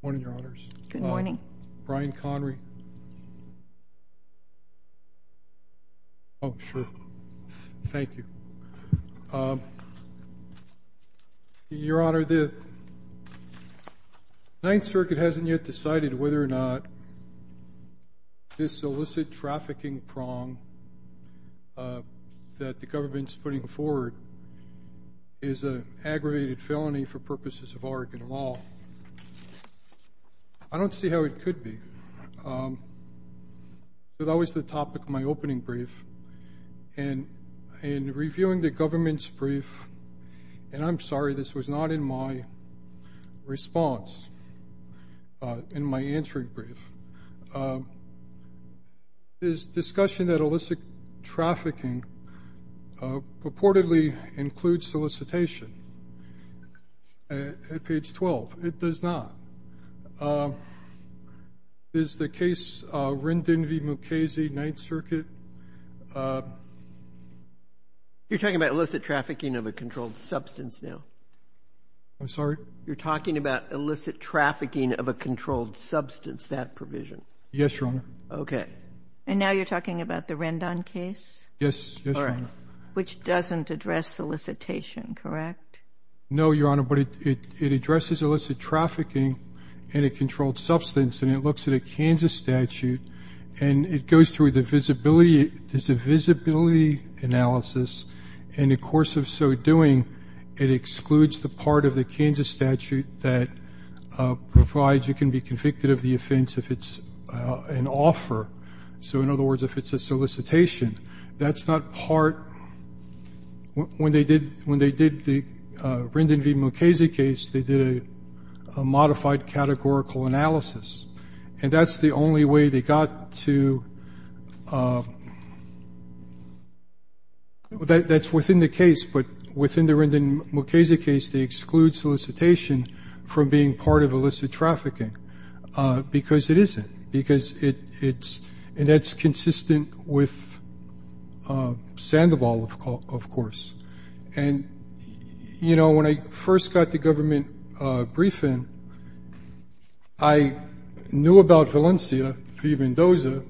Good morning your honors. Good morning. Brian Connery. Oh sure, thank you. Your honor, the Ninth Circuit hasn't yet decided whether or not this illicit trafficking prong that the government's putting forward is an aggravated felony for purposes of Oregon law. I don't see how it could be. That was the topic of my opening brief and in reviewing the government's brief, and I'm sorry this was not in my response, in my answering brief, this discussion that illicit at page 12. It does not. Is the case Rendon v. Mukasey, Ninth Circuit? You're talking about illicit trafficking of a controlled substance now? I'm sorry? You're talking about illicit trafficking of a controlled substance, that provision? Yes, your honor. Okay. And now you're talking about the Rendon case? Yes. All addressed solicitation, correct? No, your honor, but it addresses illicit trafficking in a controlled substance, and it looks at a Kansas statute, and it goes through the visibility, there's a visibility analysis, and in the course of so doing, it excludes the part of the Kansas statute that provides you can be convicted of the offense if it's an offer. So in other words, if it's a when they did the Rendon v. Mukasey case, they did a modified categorical analysis, and that's the only way they got to, that's within the case, but within the Rendon Mukasey case, they exclude solicitation from being part of illicit trafficking, because it isn't, because it's, and that's And, you know, when I first got the government briefing, I knew about Valencia v. Mendoza,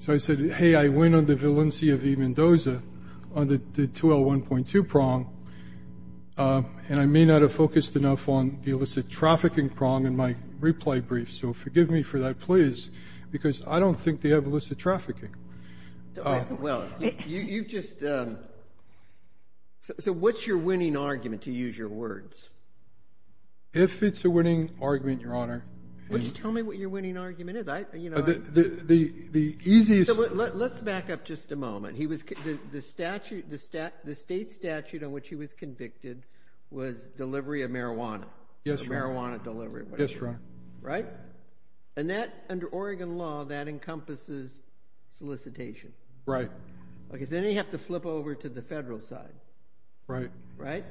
so I said, hey, I went on the Valencia v. Mendoza on the 2L1.2 prong, and I may not have focused enough on the illicit trafficking prong in my replay brief, so forgive me for that, please, because I don't think they have illicit trafficking. Well, you've just, so what's your winning argument, to use your words? If it's a winning argument, Your Honor, Why don't you tell me what your winning argument is, I, you know, The easiest, Let's back up just a moment. He was, the statute, the state statute on which he was convicted was delivery of marijuana. Yes, Your Honor. Marijuana delivery. Yes, Your Honor. Right? And that, under Oregon law, that encompasses solicitation. Right. Because then you have to flip over to the federal side. Right. Right?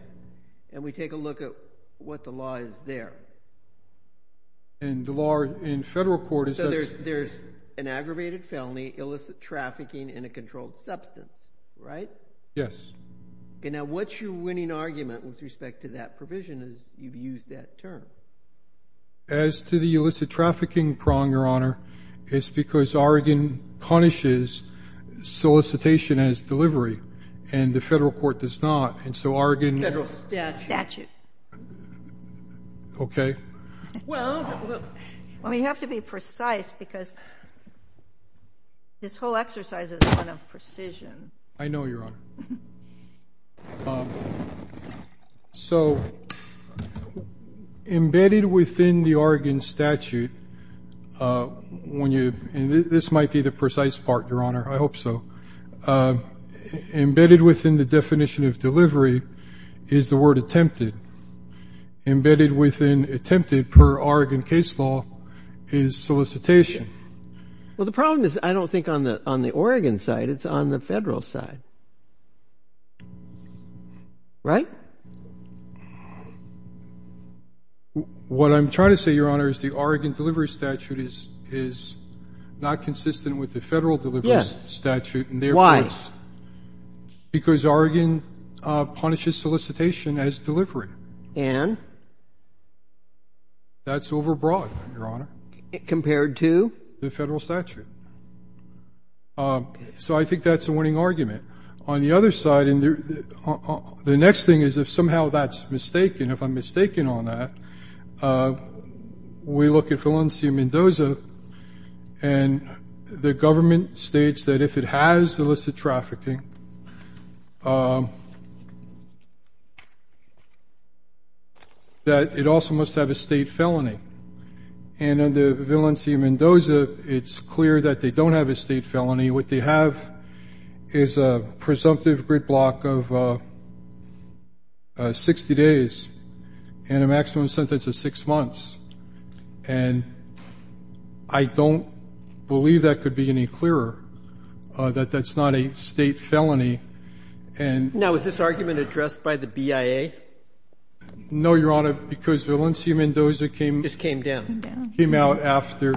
And we take a look at what the law is there. And the law in federal court is, So there's an aggravated felony, illicit trafficking, and a controlled substance, right? Yes. Okay, now what's your winning argument with respect to that provision, as you've used that term? As to the illicit trafficking prong, Your Honor, It's because Oregon punishes solicitation as delivery, and the federal court does not. And so Oregon, Federal statute. Statute. Okay. Well, Well, you have to be precise because this whole exercise is one of precision. I know, Your Honor. So, Embedded within the Oregon statute, When you, And this might be the precise part, Your Honor. I hope so. Embedded within the definition of delivery is the word attempted. Embedded within attempted per Oregon case law is solicitation. Well, the problem is, I don't think on the Oregon side, it's on the federal side. Right? What I'm trying to say, Your Honor, is the Oregon delivery statute is not consistent with the federal delivery statute. Yes. Why? Because Oregon punishes solicitation as delivery. And? That's overbroad, Your Honor. Compared to? The federal statute. So I think that's a winning argument. On the other side, the next thing is if somehow that's mistaken, if I'm mistaken on that, We look at Valencia Mendoza, And the government states that if it has illicit trafficking, That it also must have a state felony. And under Valencia Mendoza, it's clear that they don't have a state felony. What they have is a presumptive grid block of 60 days and a maximum sentence of six months. And I don't believe that could be any clearer, that that's not a state felony. Now, is this argument addressed by the BIA? No, Your Honor, because Valencia Mendoza came out after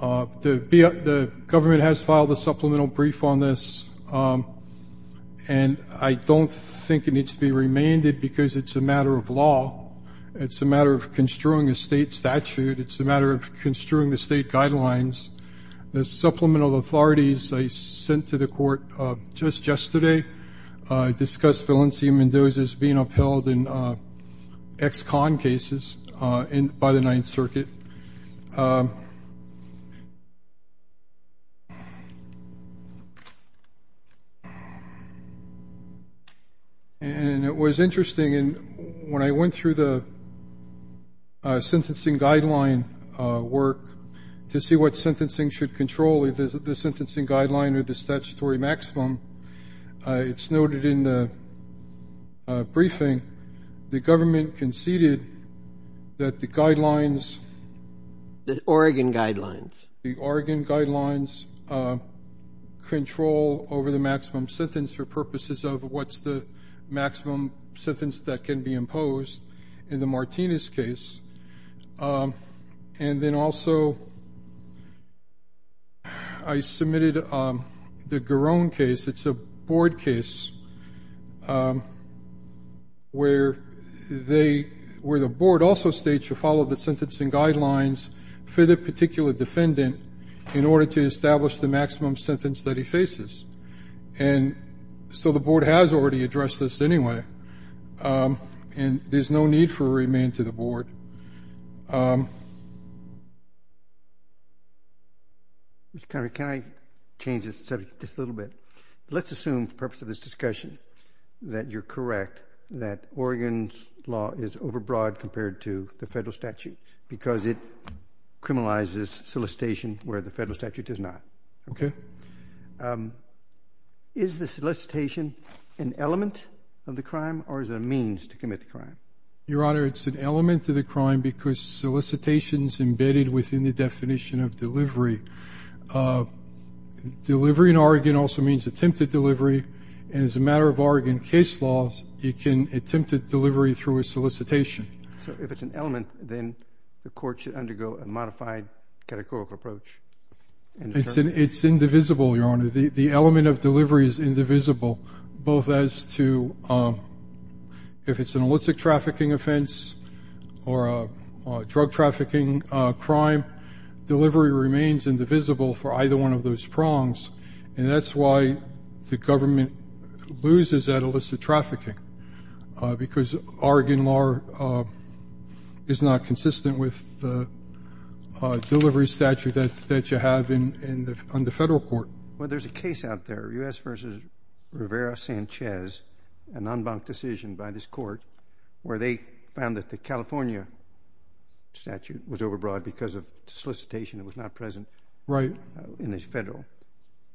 The government has filed a supplemental brief on this. And I don't think it needs to be remanded because it's a matter of law. It's a matter of construing a state statute. It's a matter of construing the state guidelines. The supplemental authorities I sent to the court just yesterday Discussed Valencia Mendoza's being upheld in ex-con cases by the Ninth Circuit. And it was interesting, when I went through the sentencing guideline work, To see what sentencing should control, the sentencing guideline or the statutory maximum, It's noted in the briefing, the government conceded that the guidelines The Oregon guidelines. The Oregon guidelines control over the maximum sentence for purposes of What's the maximum sentence that can be imposed in the Martinez case. And then also, I submitted the Garone case. It's a board case where the board also states To follow the sentencing guidelines for the particular defendant In order to establish the maximum sentence that he faces. And so the board has already addressed this anyway. And there's no need for a remand to the board. Mr. Connery, can I change the subject just a little bit? Let's assume for the purpose of this discussion that you're correct That Oregon's law is overbroad compared to the federal statute Because it criminalizes solicitation where the federal statute does not. Okay. Is the solicitation an element of the crime or is it a means to commit the crime? Your Honor, it's an element of the crime because solicitation is embedded Within the definition of delivery. Delivery in Oregon also means attempted delivery. And as a matter of Oregon case law, it can attempt a delivery through a solicitation. So if it's an element, then the court should undergo a modified categorical approach. It's indivisible, Your Honor. The element of delivery is indivisible. Both as to if it's an illicit trafficking offense Or a drug trafficking crime Delivery remains indivisible for either one of those prongs. And that's why the government loses at illicit trafficking. Because Oregon law Is not consistent with the delivery statute That you have on the federal court. Well, there's a case out there, U.S. v. Rivera-Sanchez An en banc decision by this court Where they found that the California statute was overbroad Because of solicitation that was not present in the federal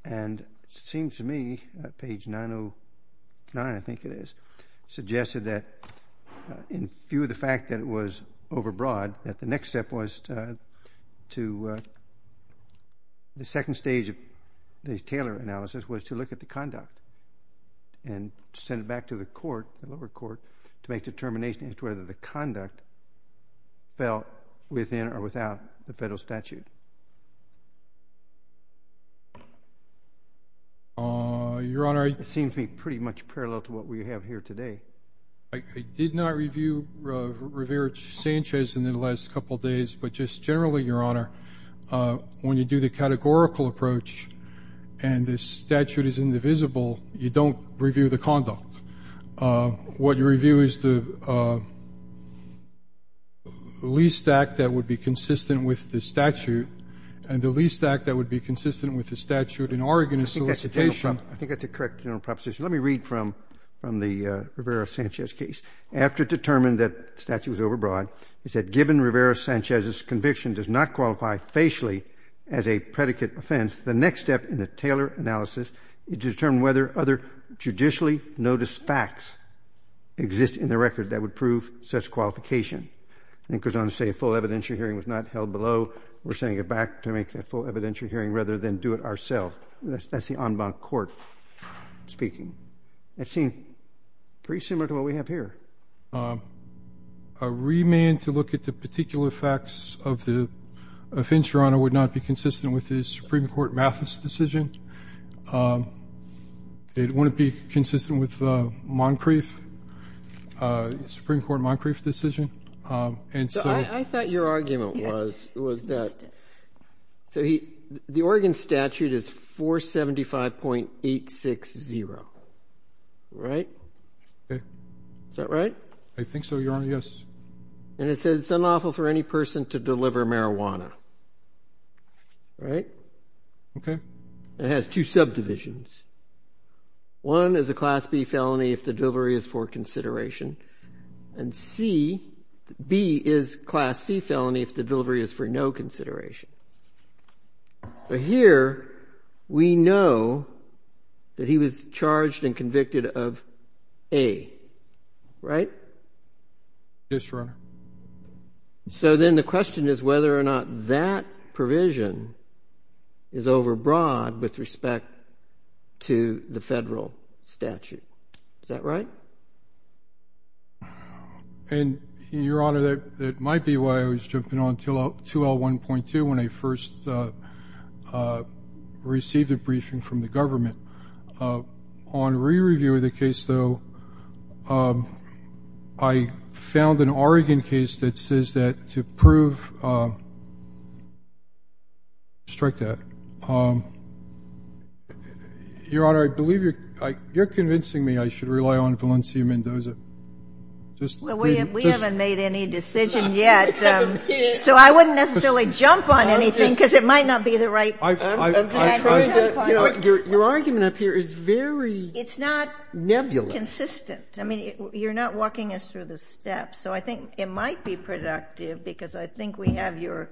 And it seems to me, page 909, I think it is Suggested that in view of the fact that it was overbroad That the next step was to The second stage of the Taylor analysis was to look at the conduct And send it back to the lower court To make determinations as to whether the conduct fell within Or without the federal statute. Your Honor, it seems to me Pretty much parallel to what we have here today. I did not review Rivera-Sanchez in the last couple of days But just generally, Your Honor, when you do the Categorical approach and the statute is indivisible You don't review the conduct. What you review is the Least act that would be Consistent with the statute and the least act that would be consistent With the statute in Oregon is solicitation. I think that's a correct general proposition. Let me read from the Rivera-Sanchez case. After it was determined that the statute was overbroad, it said given Rivera-Sanchez's conviction Does not qualify facially as a predicate offense, the next step In the Taylor analysis is to determine whether other judicially noticed Facts exist in the record that would prove such qualification. It goes on to say a full evidentiary hearing was not held below We're sending it back to make a full evidentiary hearing rather than do it ourselves. That's the en banc court speaking. That seems pretty similar to what we have here. A remand to look at the particular facts of the offense, Your Honor Would not be consistent with the Supreme Court Mathis decision. It wouldn't be consistent with the Moncrief Supreme Court Moncrief decision. I thought your argument was that The Oregon statute is 475.860 Right? Is that right? I think so, Your Honor, yes. And it says it's unlawful for any person to deliver marijuana. Right? Okay. It has two subdivisions. One is a class B felony if the delivery is for consideration And C, B is class C felony if the delivery Is for no consideration. But here we know that he was charged and convicted Of A. Right? Yes, Your Honor. So then the question is whether or not That provision is over broad with respect To the federal statute. Is that right? And Your Honor That might be why I was jumping on 2L1.2 when I first Received a briefing from the government On re-reviewing the case, though I found an Oregon case that says that To prove Your Honor, I believe You're convincing me I should rely on Valencia Mendoza Well, we haven't made any decision yet So I wouldn't necessarily jump on anything because it might not be the right Your argument up here is very Nebulous. It's not consistent. I mean, you're not walking us through the steps So I think it might be productive because I think we have your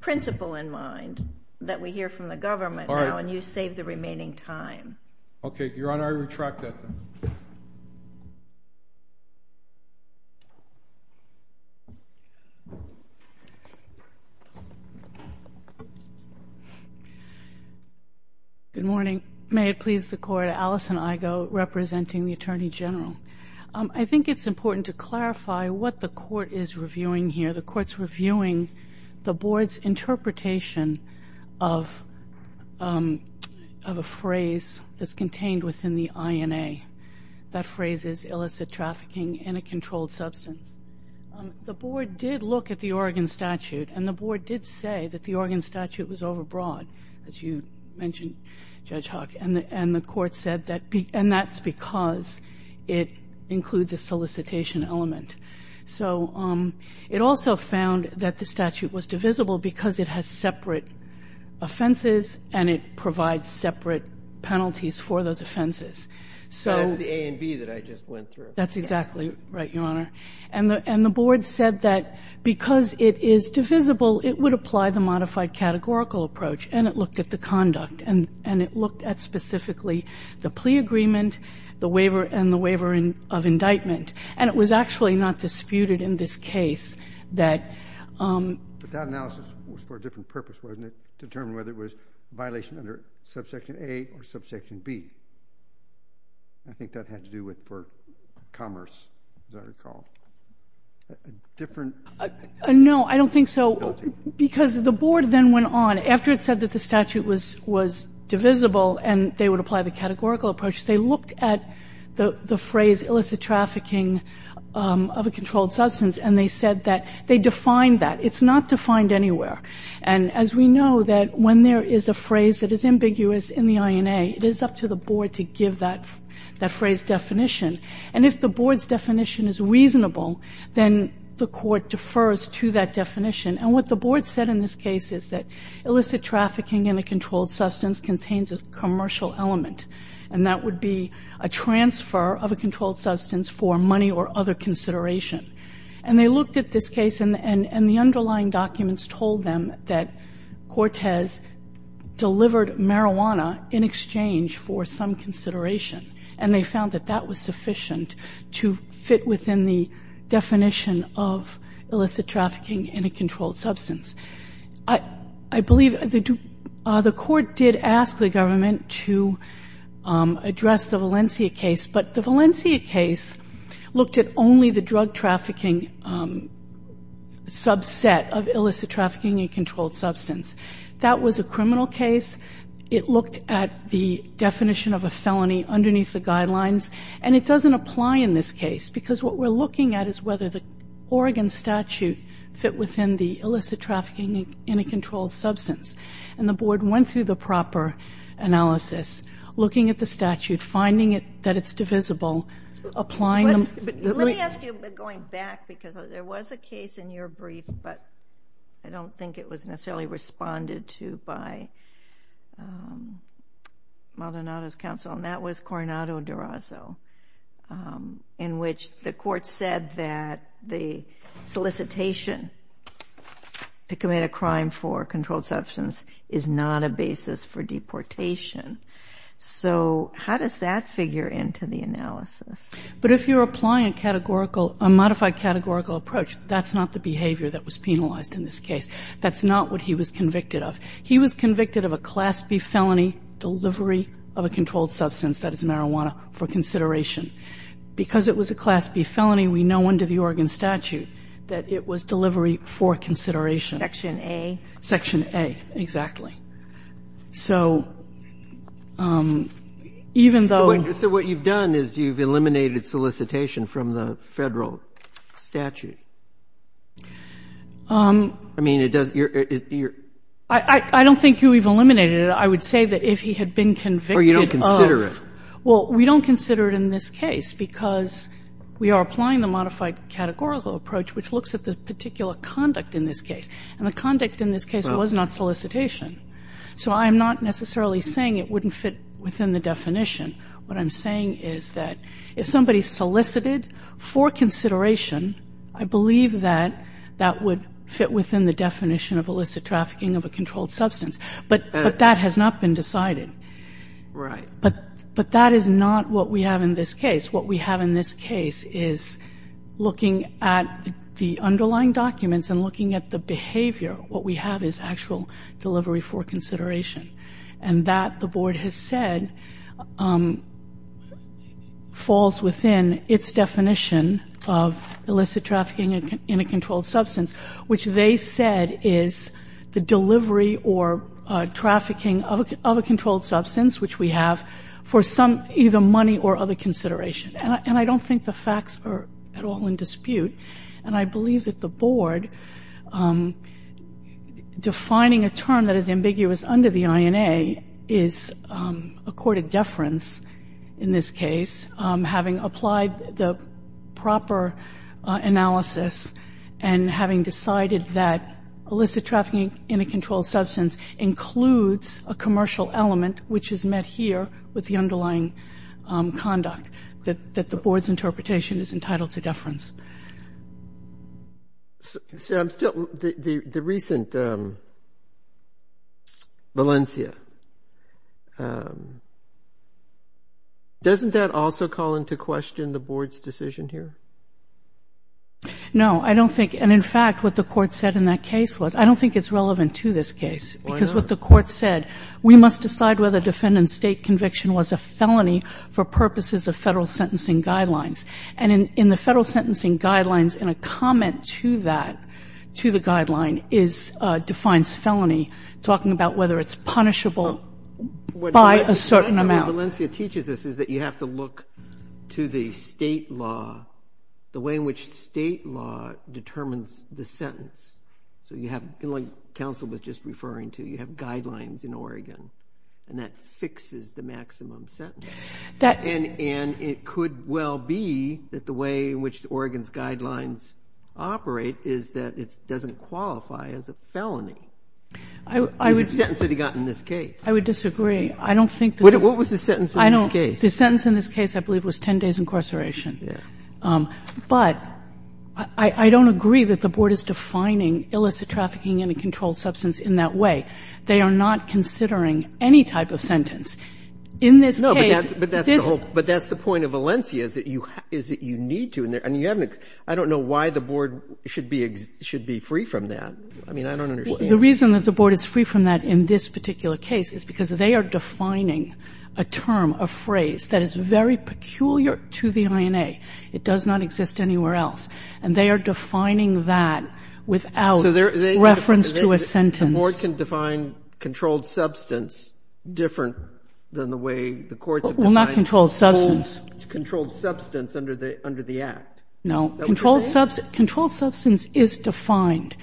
Principle in mind that we hear from the government now And you save the remaining time. Okay, Your Honor, I retract that then. Thank you. Good morning. May it please the Court, Alison Igo Representing the Attorney General. I think it's important to clarify What the Court is reviewing here. The Court's reviewing The Board's interpretation of A phrase that's contained within the INA That phrase is illicit trafficking in a controlled substance The Board did look at the Oregon statute and the Board did say That the Oregon statute was overbroad, as you mentioned Judge Hawk, and the Court said that's because It includes a solicitation element It also found that the statute was divisible because it has separate Offenses and it provides separate penalties For those offenses. That's the A and B that I just went through. That's exactly Right, Your Honor. And the Board said that because It is divisible, it would apply the modified categorical approach and it Looked at the conduct and it looked at specifically the plea agreement The waiver and the waiver of indictment. And it was actually Not disputed in this case that But that analysis was for a different purpose, wasn't it? Determine whether it was A violation under Subsection A or Subsection B I think that had to do with commerce No, I don't think so Because the Board then went on, after it said that the statute was divisible And they would apply the categorical approach, they looked at The phrase illicit trafficking of a controlled substance And they said that they defined that. It's not defined anywhere And as we know that when there is a phrase that is ambiguous in the INA It is up to the Board to give that phrase definition And if the Board's definition is reasonable, then the Court Defers to that definition. And what the Board said in this case is that Illicit trafficking in a controlled substance contains a commercial element And that would be a transfer of a controlled substance for Money or other consideration. And they looked at this case and The underlying documents told them that Cortez Delivered marijuana in exchange for some consideration And they found that that was sufficient to fit within the Definition of illicit trafficking in a controlled substance I believe the Court did ask the Government To address the Valencia case But the Valencia case looked at only the drug trafficking Subset of illicit trafficking in a controlled substance That was a criminal case. It looked at the definition Of a felony underneath the guidelines. And it doesn't apply in this case Because what we're looking at is whether the Oregon statute Fit within the illicit trafficking in a controlled substance And the Board went through the proper analysis, looking at the statute Finding that it's divisible, applying them Let me ask you, going back, because there was a case in your brief But I don't think it was necessarily responded to by Maldonado's counsel, and that was Coronado Durazo, in which the Court said That the solicitation to commit A crime for a controlled substance is not a basis for Deportation. So how does that figure into the analysis? But if you're applying a categorical, a modified categorical approach, that's Not the behavior that was penalized in this case. That's not what he was convicted Of. He was convicted of a Class B felony, delivery of a controlled Substance, that is marijuana, for consideration. Because it was a Class B Felony, we know under the Oregon statute that it was delivery for Consideration. Section A? Section A, exactly. So even though So what you've done is you've eliminated solicitation from the Federal Statute. I mean, it doesn't You're I don't think you've eliminated it. I would say that if he had been convicted Of Or you don't consider it Well, we don't consider it in this case, because we are applying the modified Categorical approach, which looks at the particular conduct in this case. And the Conduct in this case was not solicitation. So I'm not necessarily saying it wouldn't Fit within the definition. What I'm saying is that if somebody solicited for consideration, I believe that that would fit within the definition of illicit trafficking Of a controlled substance. But that has not been decided. Right. But that is not what we have in this case. What we have in this case is, looking At the underlying documents and looking at the behavior, what we have is actual And that, the Board has said, falls within its definition of illicit trafficking In a controlled substance, which they said is the delivery or trafficking of a controlled Substance, which we have, for some either money or other consideration. And I don't Think the facts are at all in dispute. And I believe that the Board defining a term That is ambiguous under the INA is a court of deference in this case, having applied The proper analysis and having decided that illicit trafficking in a controlled Substance includes a commercial element, which is met here with the underlying Conduct that the Board's interpretation is entitled to deference. So I'm still, the recent Valencia, doesn't that also call into question the Board's decision Here? No, I don't think, and in fact what the Court said in that case was, I don't think it's relevant to this case. Because what the Court said, we must decide whether defendant's state conviction was a felony for purposes Of federal sentencing guidelines. And in the federal sentencing guidelines, in a comment to that, to the Guideline, defines felony, talking about whether it's punishable by a certain amount. What Valencia teaches us is that you have to look to the state law, the way in which state law Determines the sentence. So you have, like counsel was just referring to, you have guidelines in Oregon. And that fixes the maximum sentence. And it could well be that the way in which Oregon's guidelines Operate is that it doesn't qualify as a felony. The sentence that he got in this case. I would disagree. I don't think that What was the sentence in this case? The sentence in this case, I believe, was 10 days incarceration. But I don't agree that the Board is defining illicit trafficking in a controlled substance in that way. They are not considering any type of sentence. In this case, this No, but that's the whole, but that's the point of Valencia, is that you need to. And you haven't, I don't know why the Board should be free from that. I mean, I don't understand. The reason that the Board is free from that in this particular case is because they are defining a term, a phrase, that is very peculiar to the INA. It does not exist anywhere else. And they are defining that without reference to a sentence. But the Board can define controlled substance different than the way the courts have defined Well, not controlled substance. Controlled substance under the Act. No. That would be fair. Controlled substance is defined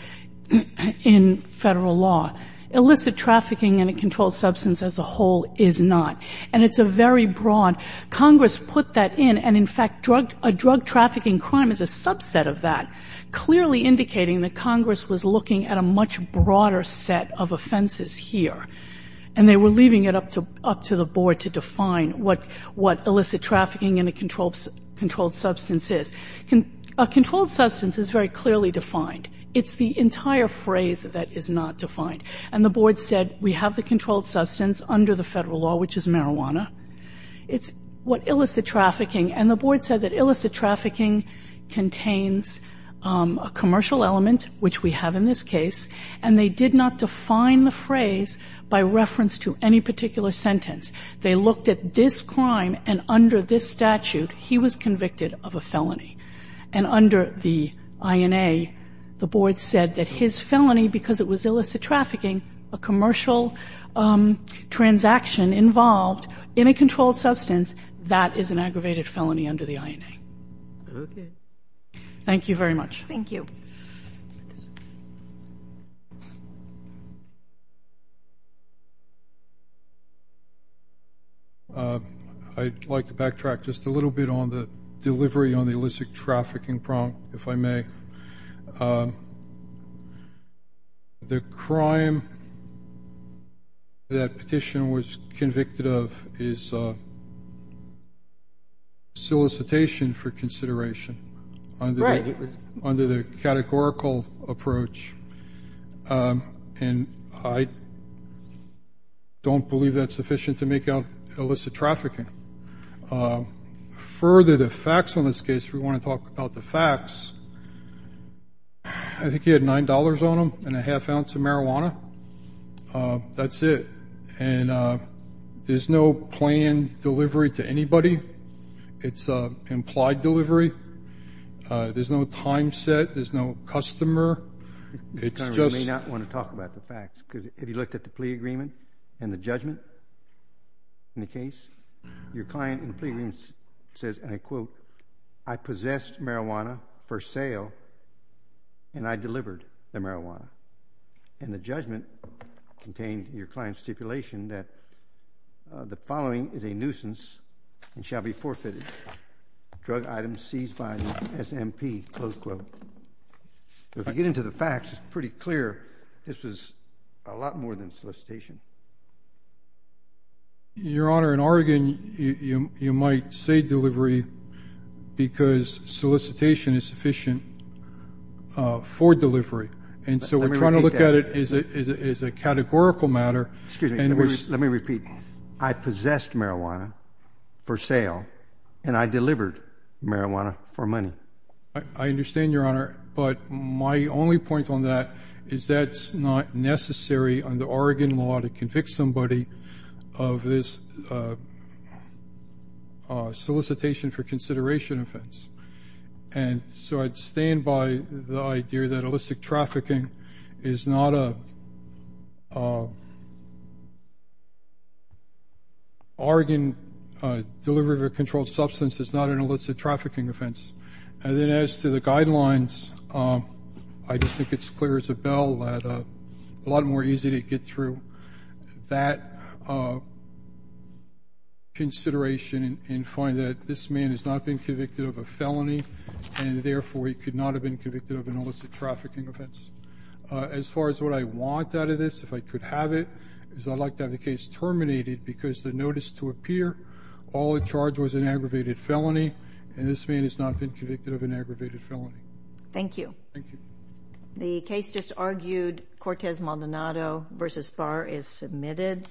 in Federal law. Illicit trafficking in a controlled substance as a whole is not. And it's a very broad. Congress put that in. And, in fact, a drug trafficking crime is a subset of that, clearly indicating that Congress was looking at a much broader set of offenses here. And they were leaving it up to the Board to define what illicit trafficking in a controlled substance is. A controlled substance is very clearly defined. It's the entire phrase that is not defined. And the Board said we have the controlled substance under the Federal law, which is marijuana. It's what illicit trafficking. And the Board said that illicit trafficking contains a commercial element, which we have in this case. And they did not define the phrase by reference to any particular sentence. They looked at this crime. And under this statute, he was convicted of a felony. And under the INA, the Board said that his felony, because it was illicit trafficking, a commercial transaction involved in a controlled substance, that is an aggravated felony under the INA. Okay. Thank you very much. Thank you. I'd like to backtrack just a little bit on the delivery on the illicit trafficking prompt, if I may. The crime that Petitioner was convicted of is solicitation for consideration under the categorical approach. And I don't believe that's sufficient to make out illicit trafficking. Further, the facts on this case, we want to talk about the facts. I think he had $9 on him and a half ounce of marijuana. That's it. And there's no planned delivery to anybody. It's implied delivery. There's no time set. There's no customer. You may not want to talk about the facts. Because if you looked at the plea agreement and the judgment in the case, your client in the plea agreement says, and I quote, I possessed marijuana for sale, and I delivered the marijuana. And the judgment contained in your client's stipulation that the following is a nuisance and shall be forfeited, drug items seized by an SMP, close quote. If you get into the facts, it's pretty clear this was a lot more than solicitation. Your Honor, in Oregon, you might say delivery because solicitation is sufficient for delivery. And so we're trying to look at it as a categorical matter. Excuse me. Let me repeat. I possessed marijuana for sale, and I delivered marijuana for money. I understand, Your Honor. But my only point on that is that's not necessary under Oregon law to convict somebody of this solicitation for consideration offense. And so I'd stand by the idea that illicit trafficking is not a Oregon delivery of a controlled substance. It's not an illicit trafficking offense. And then as to the guidelines, I just think it's clear as a bell that a lot more easy to get through that consideration and find that this man has not been convicted of a felony, and therefore he could not have been convicted of an illicit trafficking offense. As far as what I want out of this, if I could have it, is I'd like to have the case terminated because the notice to appear, all the charge was an aggravated felony, and this man has not been convicted of an aggravated felony. Thank you. Thank you. The case just argued, Cortez Maldonado v. Barr, is submitted.